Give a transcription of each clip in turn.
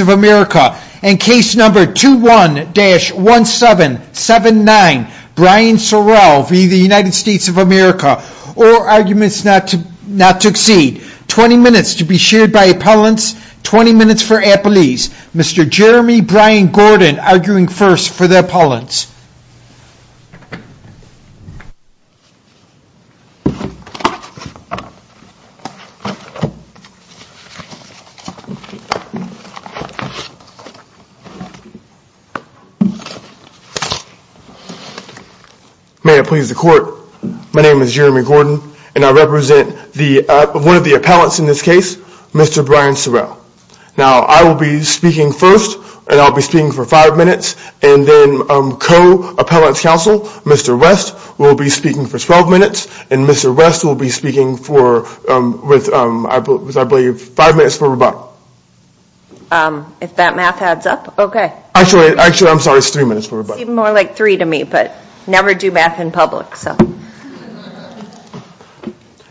of America, and case number 21-1779, Brian Sorrell v. United States of America, or arguments not to exceed. 20 minutes to be shared by appellants, 20 minutes for appellees. Mr. May it please the court, my name is Jeremy Gordon, and I represent one of the appellants in this case, Mr. Brian Sorrell. Now I will be speaking first, and I'll be speaking for Mr. West, who will be speaking for 12 minutes, and Mr. West will be speaking for, I believe, five minutes for rebuttal. If that math adds up, okay. Actually, I'm sorry, it's three minutes for rebuttal. It's even more like three to me, but never do math in public.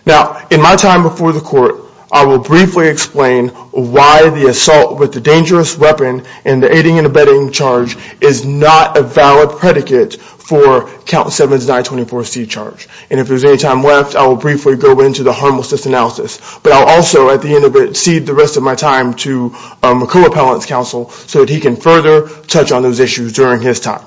Now in my time before the court, I will briefly explain why the assault with the dangerous weapon and the aiding and abetting charge is not a valid predicate for Count 7's 924C charge. And if there's any time left, I will briefly go into the harmlessness analysis, but I'll also, at the end of it, cede the rest of my time to a co-appellant's counsel so that he can further touch on those issues during his time.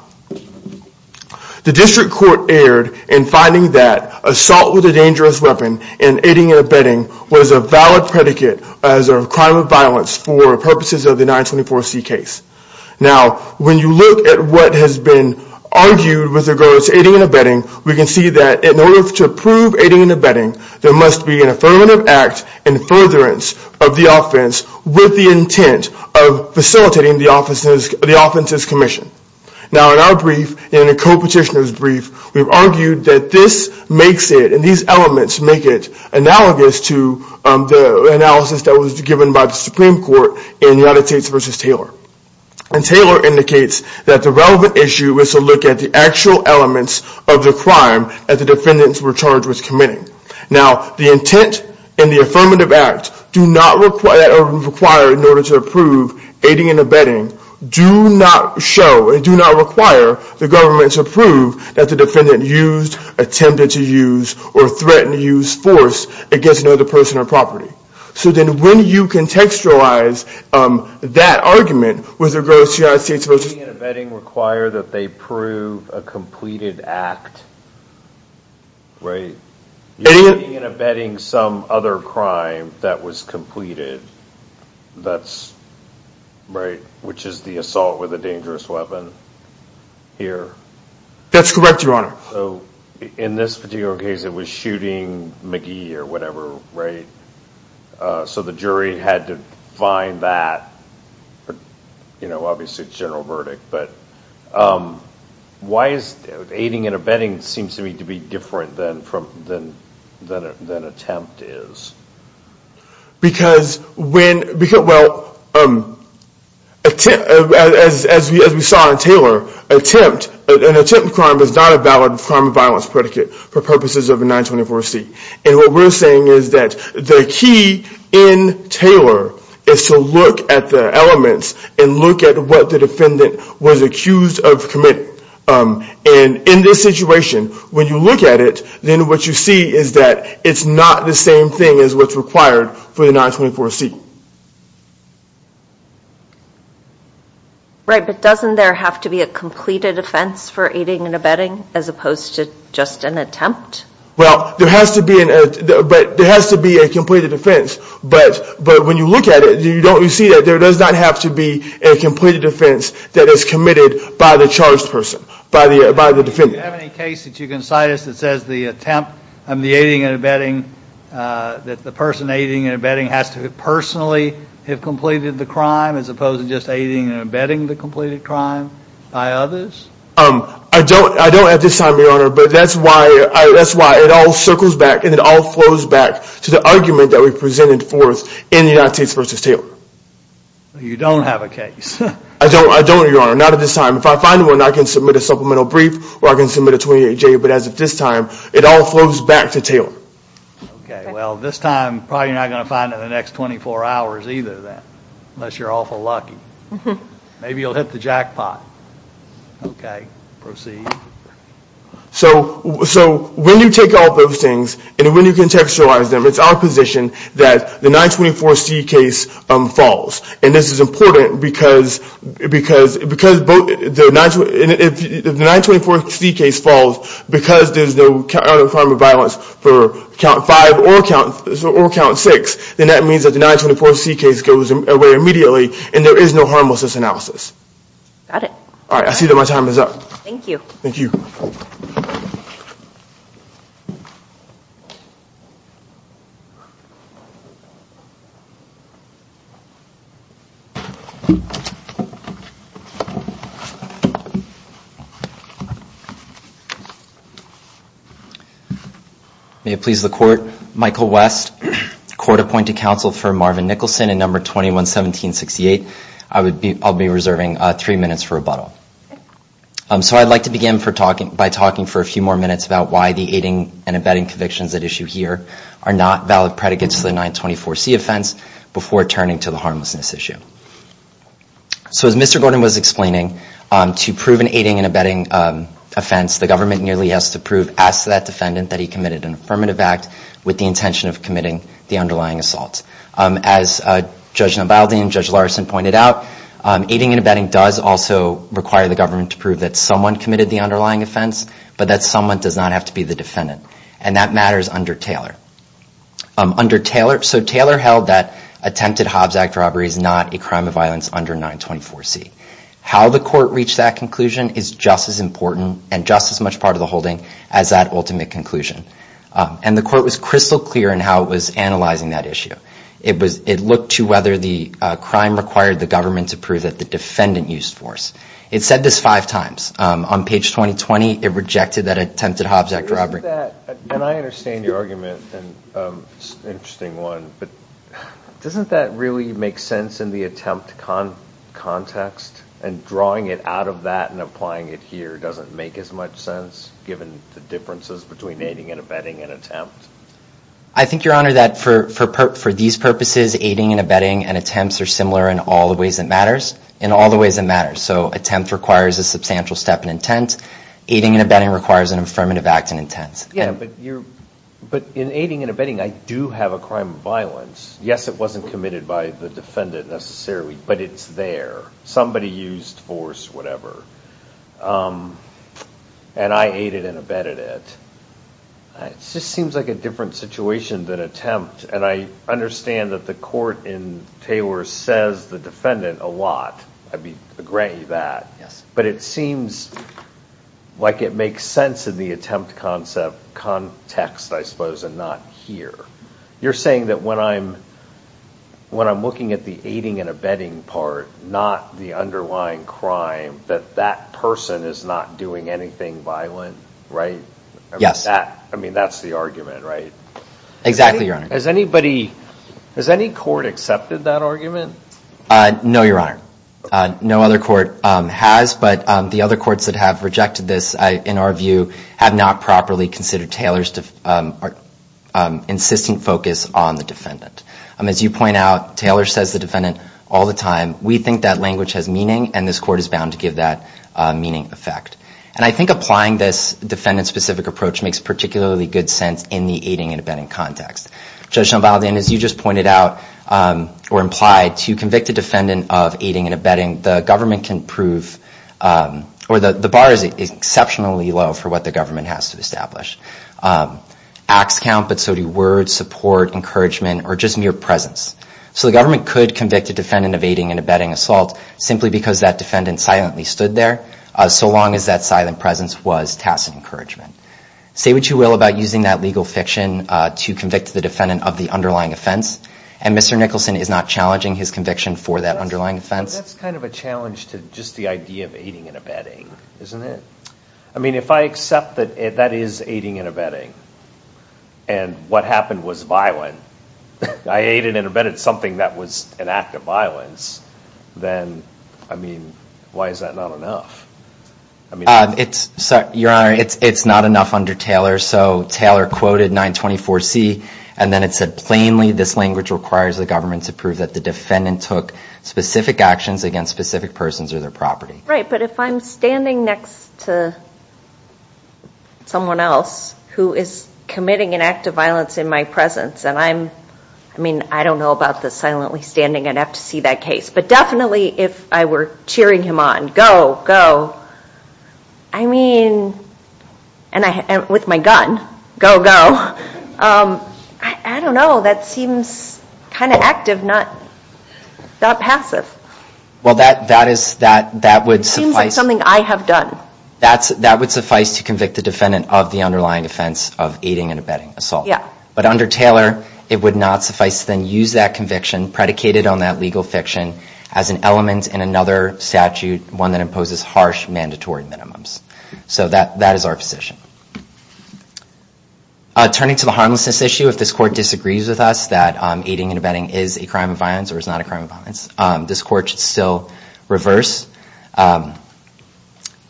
The district court erred in finding that assault with a dangerous weapon and aiding and abetting was a valid predicate as a crime of violence for purposes of the 924C case. Now, when you look at what has been argued with regards to aiding and abetting, we can see that in order to prove aiding and abetting, there must be an affirmative act in furtherance of the offense with the intent of facilitating the offense's commission. Now in our brief, in the co-petitioner's brief, we've argued that this makes it, and these elements make it, analogous to the analysis that was given by the Supreme Court in United States v. Taylor. And Taylor indicates that the relevant issue is to look at the actual elements of the crime that the defendants were charged with committing. Now, the intent and the affirmative act do not require, in order to prove aiding and abetting, do not show and do not require the force against another person or property. So then when you contextualize that argument with regards to United States v. Taylor. Aiding and abetting require that they prove a completed act, right? Aiding and abetting some other crime that was completed, that's, right, which is the assault with a dangerous weapon, here. That's correct, Your Honor. So, in this particular case, it was shooting McGee or whatever, right? So the jury had to find that, you know, obviously a general verdict, but why is aiding and abetting seems to me to be different than attempt is? Because when, well, as we saw in Taylor, attempt, an attempt crime is not a valid offense. It's not a valid crime of violence predicate for purposes of a 924C. And what we're saying is that the key in Taylor is to look at the elements and look at what the defendant was accused of committing. And in this situation, when you look at it, then what you see is that it's not the same thing as what's required for the 924C. Right, but doesn't there have to be a completed offense for aiding and abetting as opposed to just an attempt? Well, there has to be a completed offense, but when you look at it, you see that there does not have to be a completed offense that is committed by the charged person, by the defendant. Do you have any case that you can cite us that says the attempt on the aiding and abetting, that the person aiding and abetting has to personally have completed the crime as opposed to just aiding and abetting the completed crime by others? I don't at this time, Your Honor, but that's why it all circles back and it all flows back to the argument that we presented forth in United States v. Taylor. You don't have a case. I don't, Your Honor, not at this time. If I find one, I can submit a supplemental brief or I can submit a 28-J, but as of this time, it all flows back to Taylor. Okay, well, this time, probably you're not going to find it in the next 24 hours either then, unless you're awful lucky. Maybe you'll hit the jackpot. Okay, proceed. So when you take all those things and when you contextualize them, it's our position that the 924C case falls, and this is important because if the 924C case falls, the 924C case falls because there's no other crime of violence for count five or count six, then that means that the 924C case goes away immediately and there is no harmlessness analysis. Got it. All right, I see that my time is up. Thank you. Thank you. May it please the Court, Michael West, Court-Appointed Counsel for Marvin Nicholson in Number 21-1768. I'll be reserving three minutes for rebuttal. So I'd like to begin by talking for a few more minutes about why the aiding and abetting convictions at issue here are not valid predicates to the 924C offense before turning to the harmlessness issue. So as Mr. Gordon was explaining, to prove an aiding and abetting offense, the government nearly has to prove, ask that defendant that he committed an affirmative act with the intention of committing the underlying assault. As Judge Nobaldi and Judge Larson pointed out, aiding and abetting does also require the government to prove that someone committed the underlying offense, but that someone does not have to be the defendant, and that matters under Taylor. So Taylor held that attempted Hobbs Act robbery is not a crime of violence under 924C. How the Court reached that conclusion is just as important and just as much part of the holding as that ultimate conclusion. And the Court was crystal clear in how it was analyzing that issue. It looked to whether the crime required the government to prove that the defendant used force. It said this five times. On page 20-20, it rejected that attempted Hobbs Act robbery. I hear that, and I understand your argument, an interesting one, but doesn't that really make sense in the attempt context? And drawing it out of that and applying it here doesn't make as much sense, given the differences between aiding and abetting and attempt? I think, Your Honor, that for these purposes, aiding and abetting and attempts are similar in all the ways it matters, in all the ways it matters. So attempt requires a substantial step in intent. Aiding and abetting requires an affirmative act in intent. But in aiding and abetting, I do have a crime of violence. Yes, it wasn't committed by the defendant, necessarily, but it's there. Somebody used force, whatever. And I aided and abetted it. It just seems like a different situation than attempt. And I understand that the Court in Taylor says the defendant a lot, I grant you that. But it seems like it makes sense in the attempt context, I suppose, and not here. You're saying that when I'm looking at the aiding and abetting part, not the underlying crime, that that person is not doing anything violent, right? Yes. I mean, that's the argument, right? Exactly, Your Honor. Has any court accepted that argument? No, Your Honor. No other court has, but the other courts that have rejected this, in our view, have not properly considered Taylor's insistent focus on the defendant. As you point out, Taylor says the defendant all the time. We think that language has meaning, and this Court is bound to give that meaning effect. And I think applying this defendant-specific approach makes particularly good sense in the aiding and abetting context. Judge Shambhala, as you just pointed out, or implied, to convict a defendant of aiding and abetting, the government can prove, or the bar is exceptionally low for what the government has to establish. Acts count, but so do words, support, encouragement, or just mere presence. So the government could convict a defendant of aiding and abetting assault simply because that defendant silently stood there, so long as that silent presence was tacit encouragement. Say what you will about using that legal fiction to convict the defendant of the underlying offense, and Mr. Nicholson is not challenging his conviction for that underlying offense. That's kind of a challenge to just the idea of aiding and abetting, isn't it? I mean, if I accept that that is aiding and abetting, and what happened was violent, I aided and abetted something that was an act of violence, then, I mean, why is that not enough? Your Honor, it's not enough under Taylor, so Taylor quoted 924C, and then it said, plainly, this language requires the government to prove that the defendant took specific actions against specific persons or their property. Right, but if I'm standing next to someone else who is committing an act of violence in my presence, and I'm, I mean, I don't know about the silently standing, I'd have to see that case, but definitely if I were cheering him on, go, go, I mean, and with my gun, go, go, I don't know, that seems kind of active, not passive. Well, that is, that would suffice. It seems like something I have done. That would suffice to convict the defendant of the underlying offense of aiding and abetting assault. Yeah. But under Taylor, it would not suffice to then use that conviction predicated on that legal fiction as an element in another statute, one that imposes harsh mandatory minimums. So that is our position. Turning to the harmlessness issue, if this Court disagrees with us that aiding and abetting is a crime of violence or is not a crime of violence, this Court should still reverse.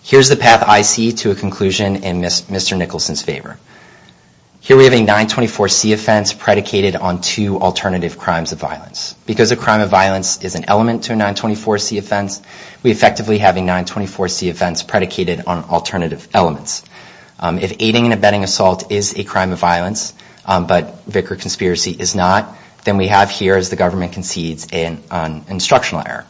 Here's the path I see to a conclusion in Mr. Nicholson's favor. Here we have a 924C offense predicated on two alternative crimes of violence. Because a crime of violence is an element to a 924C offense, we effectively have a 924C offense predicated on alternative elements. If aiding and abetting assault is a crime of violence, but Vicar conspiracy is not, then we have here, as the government concedes, an instructional error.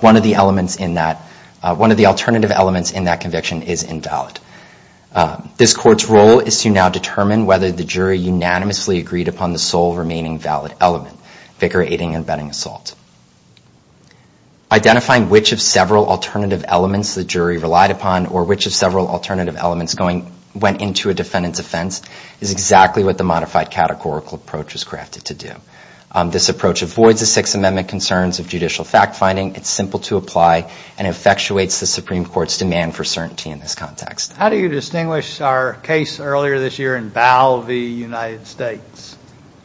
One of the elements in that, one of the alternative elements in that conviction is invalid. This Court's role is to now determine whether the jury unanimously agreed upon the sole remaining valid element, Vicar aiding and abetting assault. Identifying which of several alternative elements the jury relied upon or which of several alternative elements went into a defendant's offense is exactly what the modified categorical approach is crafted to do. This approach avoids the Sixth Amendment concerns of judicial fact-finding. It's simple to apply and effectuates the Supreme Court's demand for certainty in this context. How do you distinguish our case earlier this year in Bao v. United States?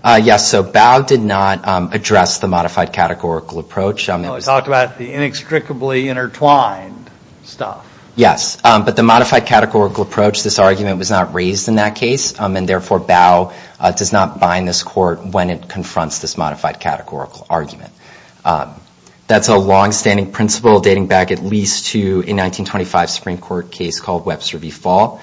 Yes. So, Bao did not address the modified categorical approach. No, it talked about the inextricably intertwined stuff. Yes. But the modified categorical approach, this argument was not raised in that case. And therefore, Bao does not bind this Court when it confronts this modified categorical argument. That's a long-standing principle dating back at least to a 1925 Supreme Court case called Webster v. Fall,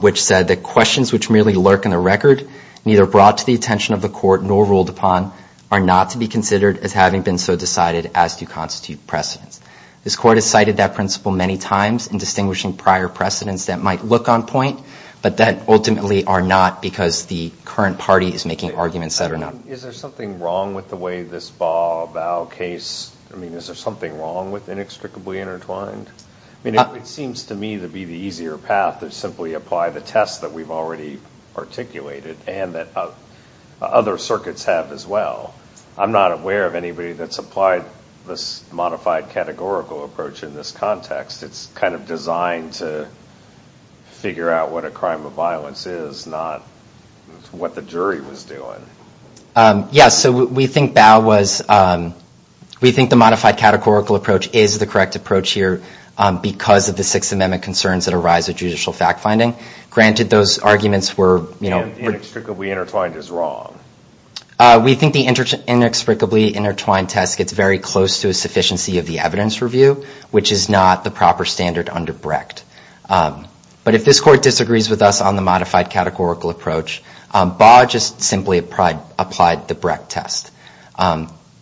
which said that questions which merely lurk in the record, neither brought to the attention of the Court nor ruled upon, are not to be considered as having been so decided as to constitute precedents. This Court has cited that principle many times in distinguishing prior precedents that might look on point, but that ultimately are not because the current party is making arguments that are not. Is there something wrong with the way this Bao case, is there something wrong with inextricably intertwined? It seems to me to be the easier path to simply apply the test that we've already articulated and that other circuits have as well. I'm not aware of anybody that's applied this modified categorical approach in this context. It's kind of designed to figure out what a crime of violence is, not what the jury was doing. Yes, so we think Bao was, we think the modified categorical approach is the correct approach here because of the Sixth Amendment concerns that arise with judicial fact-finding. Granted those arguments were, you know... Inextricably intertwined is wrong. We think the inextricably intertwined test gets very close to a sufficiency of the evidence review, which is not the proper standard under Brecht. But if this Court disagrees with us on the modified categorical approach, Bao just simply applied the Brecht test.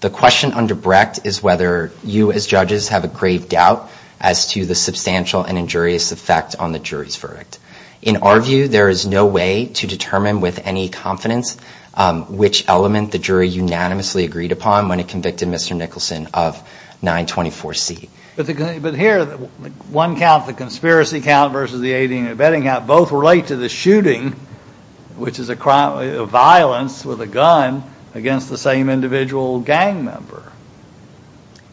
The question under Brecht is whether you as judges have a grave doubt as to the substantial and injurious effect on the jury's verdict. In our view, there is no way to determine with any confidence which element the jury unanimously agreed upon when it convicted Mr. Nicholson of 924C. But here, one count, the conspiracy count versus the 18 and the betting count both relate to the shooting, which is a crime of violence with a gun against the same individual gang member.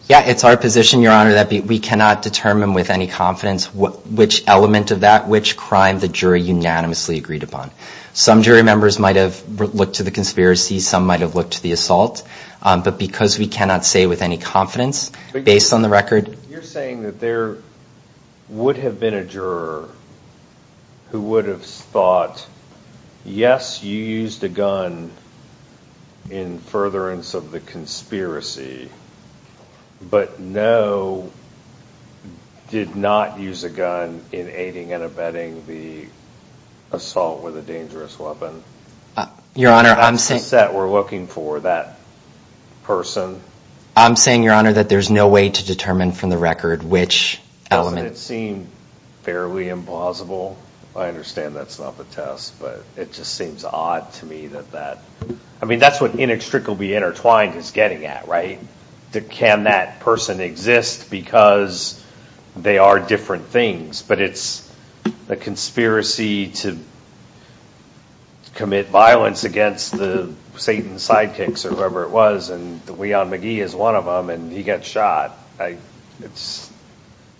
Yeah, it's our position, Your Honor, that we cannot determine with any confidence which element of that, which crime the jury unanimously agreed upon. Some jury members might have looked to the conspiracy. Some might have looked to the assault. But because we cannot say with any confidence, based on the record... You're saying that there would have been a juror who would have thought, yes, you used a gun in furtherance of the conspiracy, but no, did not use a gun in aiding and abetting the assault with a dangerous weapon. Your Honor, I'm saying... That's the set we're looking for, that person. I'm saying, Your Honor, that there's no way to determine from the record which element... Doesn't it seem fairly implausible? I understand that's not the test, but it just seems odd to me that that... I mean, that's what inextricably intertwined is getting at, right? Can that person exist because they are different things? But it's a conspiracy to commit violence against the Satan sidekicks or whoever it was and that Leon McGee is one of them and he gets shot. It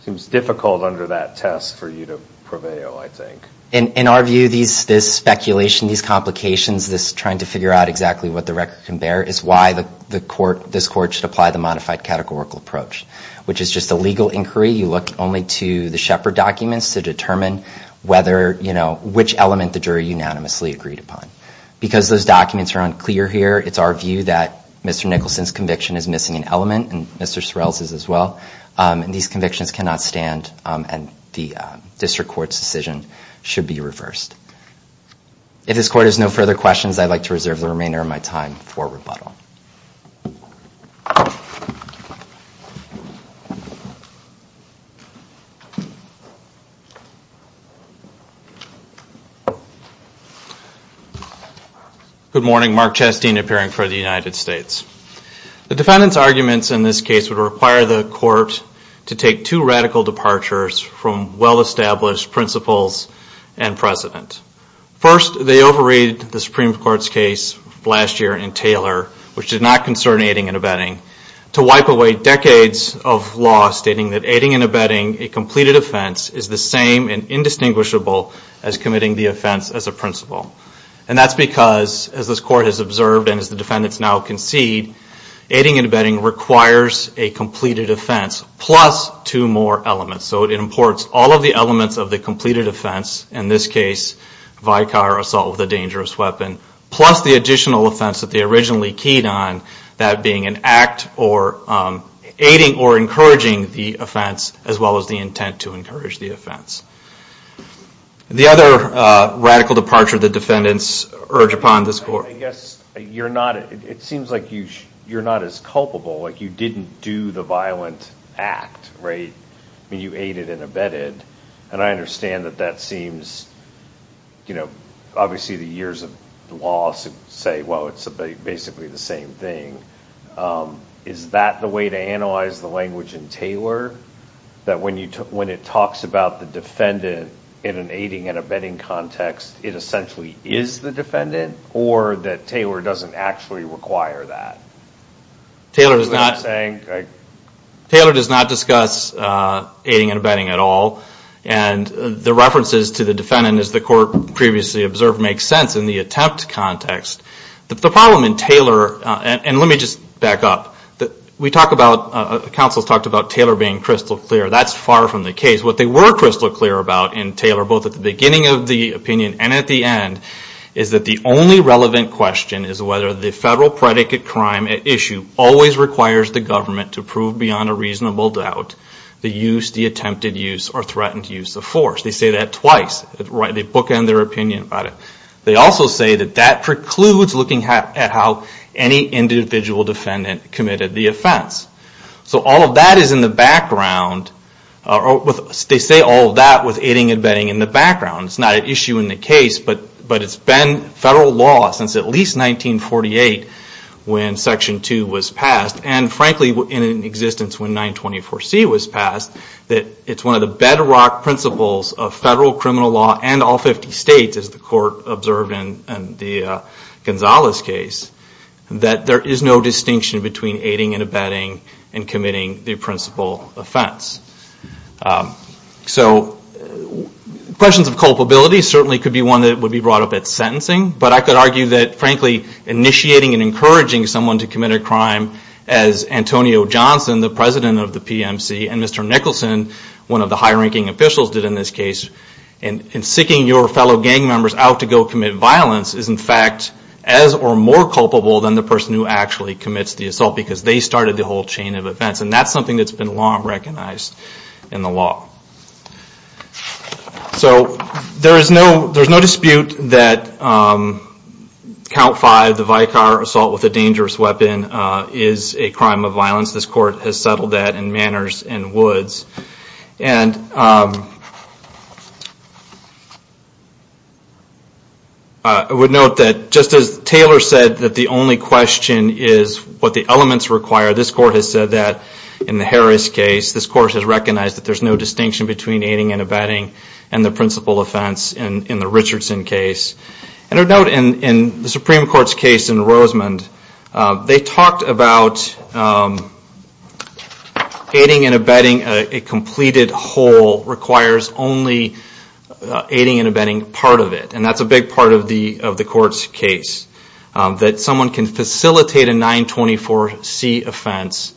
seems difficult under that test for you to prevail, I think. In our view, this speculation, these complications, this trying to figure out exactly what the record can bear is why this court should apply the modified categorical approach, which is just a legal inquiry. You look only to the Shepard documents to determine which element the jury unanimously agreed upon. Because those documents are unclear here, it's our view that Mr. Nicholson's conviction is missing an element and Mr. Sorrell's is as well. These convictions cannot stand and the district court's decision should be reversed. If this court has no further questions, I'd like to reserve the remainder of my time for rebuttal. Good morning. Mark Chastain appearing for the United States. The defendant's arguments in this case would require the court to take two radical departures from well-established principles and precedent. First, they overrated the Supreme Court's case last year in Taylor, which did not concern aiding and abetting, to wipe away decades of law stating that aiding and abetting a completed offense is the same and indistinguishable as committing the offense as a principle. And that's because, as this court has observed and as the defendants now concede, aiding and abetting requires a completed offense plus two more elements. So it imports all of the elements of the completed offense, in this case vicar assault with a dangerous weapon, plus the additional offense that they originally keyed on, that being an act aiding or encouraging the offense as well as the intent to encourage the offense. The other radical departure the defendants urge upon this court... I guess you're not, it seems like you're not as culpable, like you didn't do the violent act, right? I mean, you aided and abetted, and I understand that that seems, you know, obviously the years of law say, well, it's basically the same thing. Is that the way to analyze the language in Taylor? That when it talks about the defendant in an aiding and abetting context, it essentially is the defendant? Or that Taylor doesn't actually require that? Taylor does not discuss aiding and abetting at all. And the references to the defendant, as the court previously observed, makes sense in the attempt context. The problem in Taylor, and let me just back up, we talk about, counsels talked about Taylor being crystal clear. That's far from the case. What they were crystal clear about in Taylor, both at the beginning of the opinion and at the end, is that the only relevant question is whether the federal predicate crime at issue always requires the government to prove beyond a reasonable doubt the use, the attempted use, or threatened use of force. They say that twice. They bookend their opinion about it. They also say that that precludes looking at how any individual defendant committed the offense. So all of that is in the background. They say all of that with aiding and abetting in the background. It's not an issue in the case, but it's been federal law since at least 1948 when Section 2 was passed. And frankly, in existence when 924C was passed, that it's one of the bedrock principles of federal criminal law and all 50 states, as the court observed in the Gonzales case, that there is no distinction between aiding and abetting and committing the principal offense. So questions of culpability certainly could be one that would be brought up at sentencing, but I could argue that, frankly, initiating and encouraging someone to commit a crime as Antonio Johnson, the president of the PMC, and Mr. Nicholson, one of the high-ranking officials did in this case, in seeking your fellow gang members out to go commit violence is, in fact, as or more culpable than the person who actually commits the assault because they started the whole chain of events. And that's something that's been long recognized in the law. So there is no dispute that Count 5, the Vicar assault with a dangerous weapon, is a crime of violence. This court has settled that in Manners and Woods. And I would note that just as Taylor said that the only question is what the elements require, this court has said that in the Harris case, this court has recognized that there is no distinction between aiding and abetting and the principal offense in the Richardson case. And I would note in the Supreme Court's case in Rosemond, they talked about aiding and abetting a completed whole requires only aiding and abetting part of it. And that's a big part of the court's case. That someone can facilitate a 924C offense,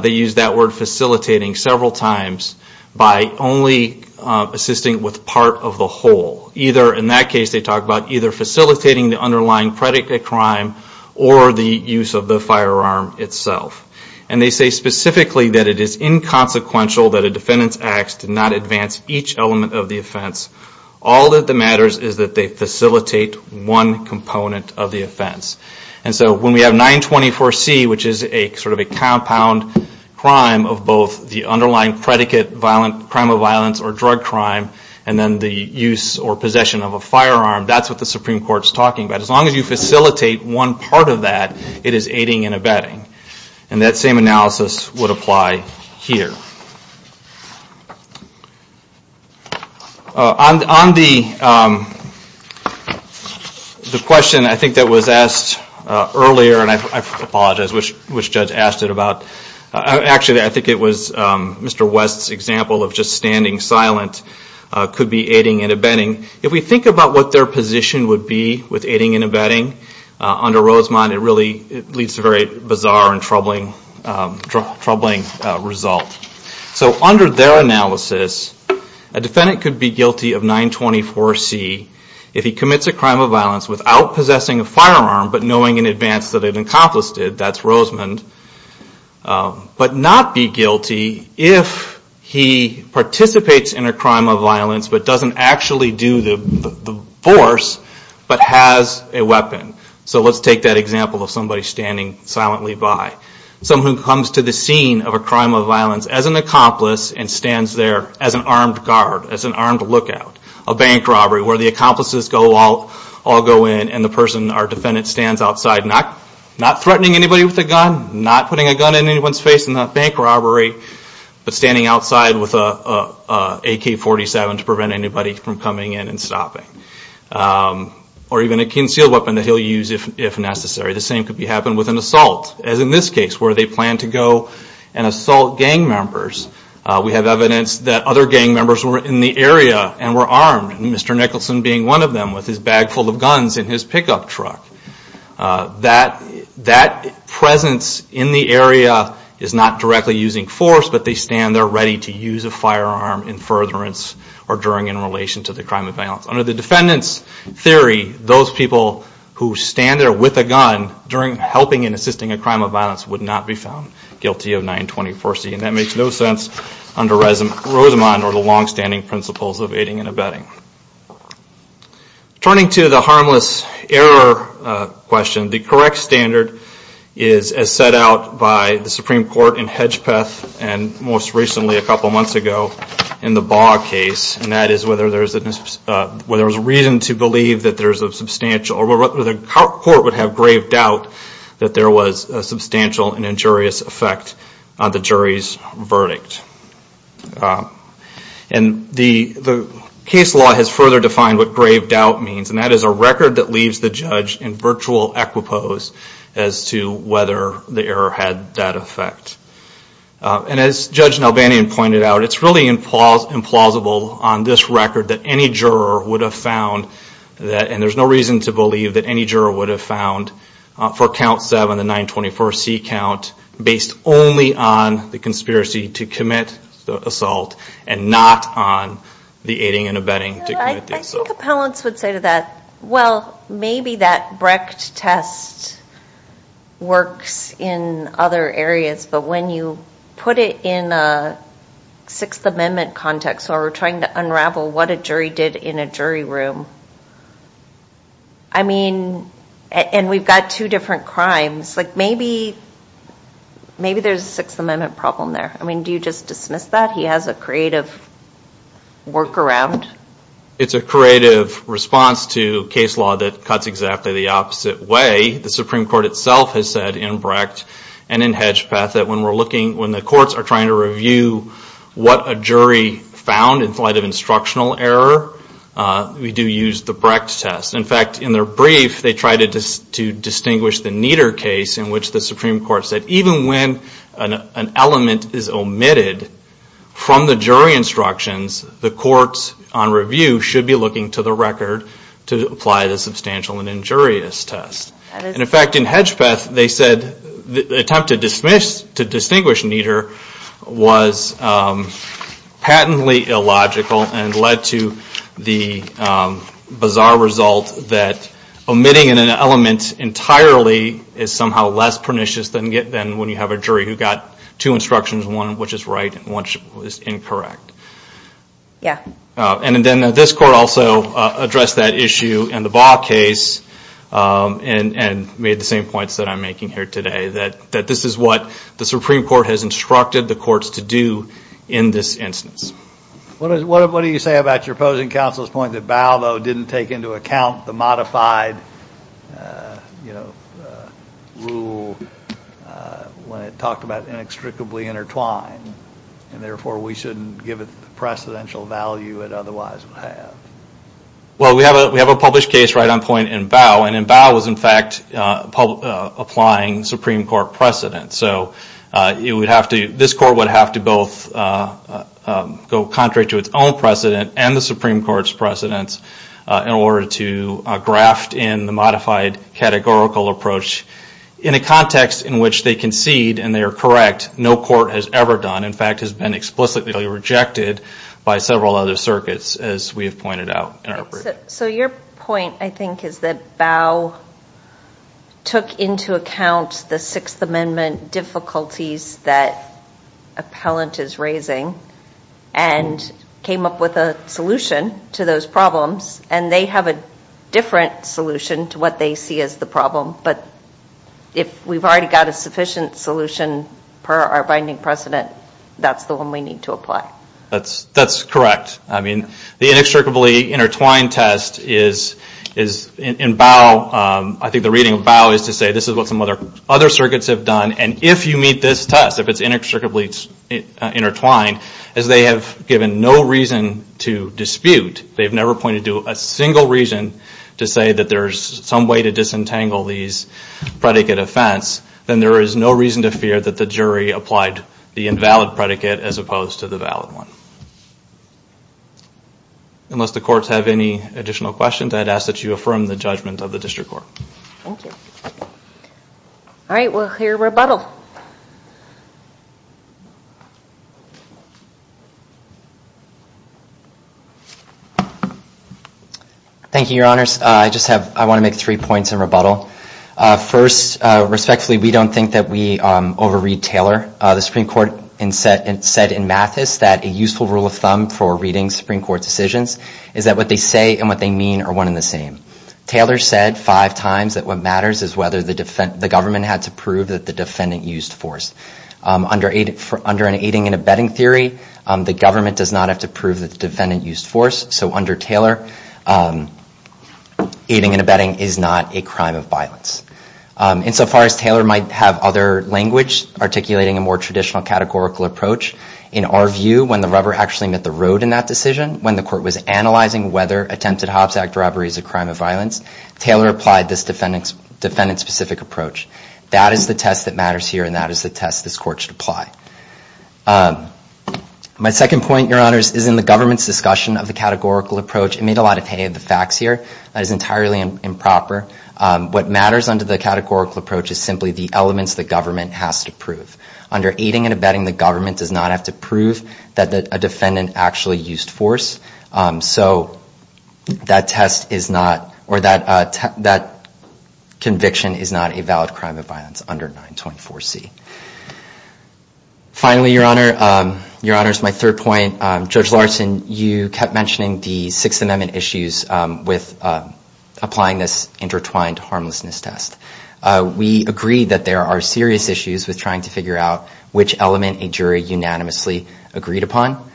they use that word facilitating several times, by only assisting with part of the whole. Either in that case, they talk about either facilitating the underlying predicate crime or the use of the firearm itself. And they say specifically that it is inconsequential that a defendant's acts did not advance each element of the offense. All that matters is that they facilitate one component of the offense. And so when we have 924C, which is sort of a compound crime of both the underlying predicate crime of violence or drug crime and then the use or possession of a firearm, that's what the Supreme Court is talking about. As long as you facilitate one part of that, it is aiding and abetting. And that same analysis would apply here. On the question I think that was asked earlier, and I apologize, which judge asked it about, actually I think it was Mr. West's example of just standing silent could be aiding and abetting. If we think about what their position would be with aiding and abetting under Rosemond, it really leaves a very bizarre and troubling result. So under their analysis, a defendant could be guilty of 924C if he commits a crime of violence without possessing a firearm but knowing in advance that it encompassed it, that's Rosemond, but not be guilty if he participates in a crime of violence but doesn't actually do the force but has a weapon. So let's take that example of somebody standing silently by. Someone who comes to the scene of a crime of violence as an accomplice and stands there as an armed guard, as an armed lookout, a bank robbery where the accomplices all go in and the person, our defendant, stands outside not threatening anybody with a gun, not putting a gun in anyone's face in a bank robbery, but standing outside with an AK-47 to prevent anybody from coming in and stopping, or even a concealed weapon that he'll use if necessary. The same could happen with an assault, as in this case, where they plan to go and assault gang members. We have evidence that other gang members were in the area and were armed, Mr. Nicholson being one of them with his bag full of guns in his pickup truck. That presence in the area is not directly using force, but they stand there ready to use a firearm in furtherance or during in relation to the crime of violence. Under the defendant's theory, those people who stand there with a gun during helping and assisting a crime of violence would not be found guilty of 924C. And that makes no sense under Rosamond or the long-standing principles of aiding and abetting. Turning to the harmless error question, the correct standard is as set out by the Supreme Court in Hedgepeth, and most recently a couple months ago in the Baugh case, and that is whether there's a reason to believe that there's a substantial, or whether the court would have grave doubt that there was a substantial and injurious effect on the jury's verdict. And the case law has further defined what grave doubt means, and that is a record that leaves the judge in virtual equipoise as to whether the error had that effect. And as Judge Nalbanian pointed out, it's really implausible on this record that any juror would have found, and there's no reason to believe that any juror would have found for count 7, the 924C count, based only on the conspiracy to commit the assault and not on the aiding and abetting to commit the assault. I think appellants would say to that, well, maybe that Brecht test works in other areas, but when you put it in a Sixth Amendment context where we're trying to unravel what a jury did in a jury room, I mean, and we've got two different crimes, maybe there's a Sixth Amendment problem there. I mean, do you just dismiss that? He has a creative workaround? It's a creative response to case law that cuts exactly the opposite way. The Supreme Court itself has said in Brecht and in Hedgepeth that when the courts are trying to review what a jury found in light of instructional error, we do use the Brecht test. In fact, in their brief, they try to distinguish the neater case in which the Supreme Court said even when an element is omitted from the jury instructions, the courts on review should be looking to the record to apply the substantial and injurious test. In fact, in Hedgepeth, they said the attempt to distinguish neater was patently illogical and led to the bizarre result that omitting an element entirely is somehow less pernicious than when you have a jury who got two instructions, one which is right and one which is incorrect. And then this court also addressed that issue in the Baugh case and made the same points that I'm making here today that this is what the Supreme Court has instructed the courts to do in this instance. What do you say about your opposing counsel's point that Baugh, though, didn't take into account the modified rule when it talked about inextricably intertwined and therefore we shouldn't give it the precedential value it otherwise would have? Well, we have a published case right on point in Baugh and in Baugh was, in fact, applying Supreme Court precedent. This court would have to both go contrary to its own precedent and the Supreme Court's precedents in order to graft in the modified categorical approach in a context in which they concede and they are correct. No court has ever done, in fact, has been explicitly rejected by several other circuits, as we have pointed out. So your point, I think, is that Baugh took into account the Sixth Amendment difficulties that appellant is raising and came up with a solution to those problems and they have a different solution to what they see as the problem but if we've already got a sufficient solution per our binding precedent, that's the one we need to apply. That's correct. The inextricably intertwined test is in Baugh, I think the reading of Baugh is to say this is what some other circuits have done and if you meet this test, if it's inextricably intertwined, as they have given no reason to dispute, they've never pointed to a single reason to say that there's some way to disentangle these predicate offense, then there is no reason to fear that the jury applied the invalid predicate as opposed to the valid one. Unless the courts have any additional questions, I'd ask that you affirm the judgment of the District Court. Thank you. Alright, we'll hear rebuttal. Thank you, Your Honors. I want to make three points in rebuttal. First, respectfully, we don't think that we over-read Taylor. The Supreme Court said in Mathis that a useful rule of thumb for reading Supreme Court decisions is that what they say and what they mean are one and the same. Taylor said five times that what matters is whether the government had to prove that the defendant used force. Under an aiding and abetting theory, the government does not have to prove that the defendant used force, so under Taylor, aiding and abetting is not a crime of violence. Insofar as Taylor might have other language articulating a more traditional categorical approach, in our view, when the rubber actually met the road in that decision, when the court was analyzing whether attempted Hobbs Act robbery is a crime of violence, Taylor applied this defendant-specific approach. That is the test that matters here, and that is the test this court should apply. My second point, Your Honors, is in the government's discussion of the categorical approach. It made a lot of hay of the facts here. That is entirely improper. What matters under the categorical approach is simply the elements the government has to prove. Under aiding and abetting, the government does not have to prove that a defendant actually used force, so that test is not or that conviction is not a valid crime of violence under 924C. Finally, Your Honors, my third point, Judge Larson, you kept mentioning the Sixth Amendment issues with applying this intertwined harmlessness test. We agree that there are serious issues with trying to figure out which element a jury unanimously agreed upon.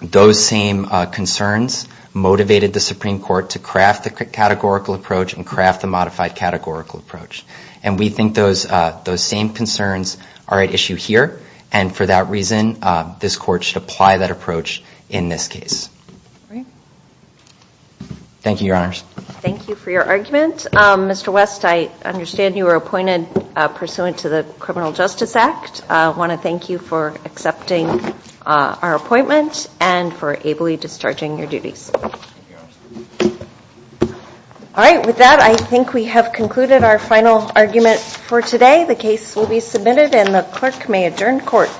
Those same concerns motivated the Supreme Court to craft the categorical approach and craft the modified categorical approach. We think those same concerns are at issue here, and for that reason, Thank you, Your Honors. Thank you for your argument. Mr. West, I understand you were appointed pursuant to the Criminal Justice Act. I want to thank you for accepting our appointment and for ably discharging your duties. All right, with that, I think we have concluded our final argument for today. The case will be submitted and the clerk may adjourn court.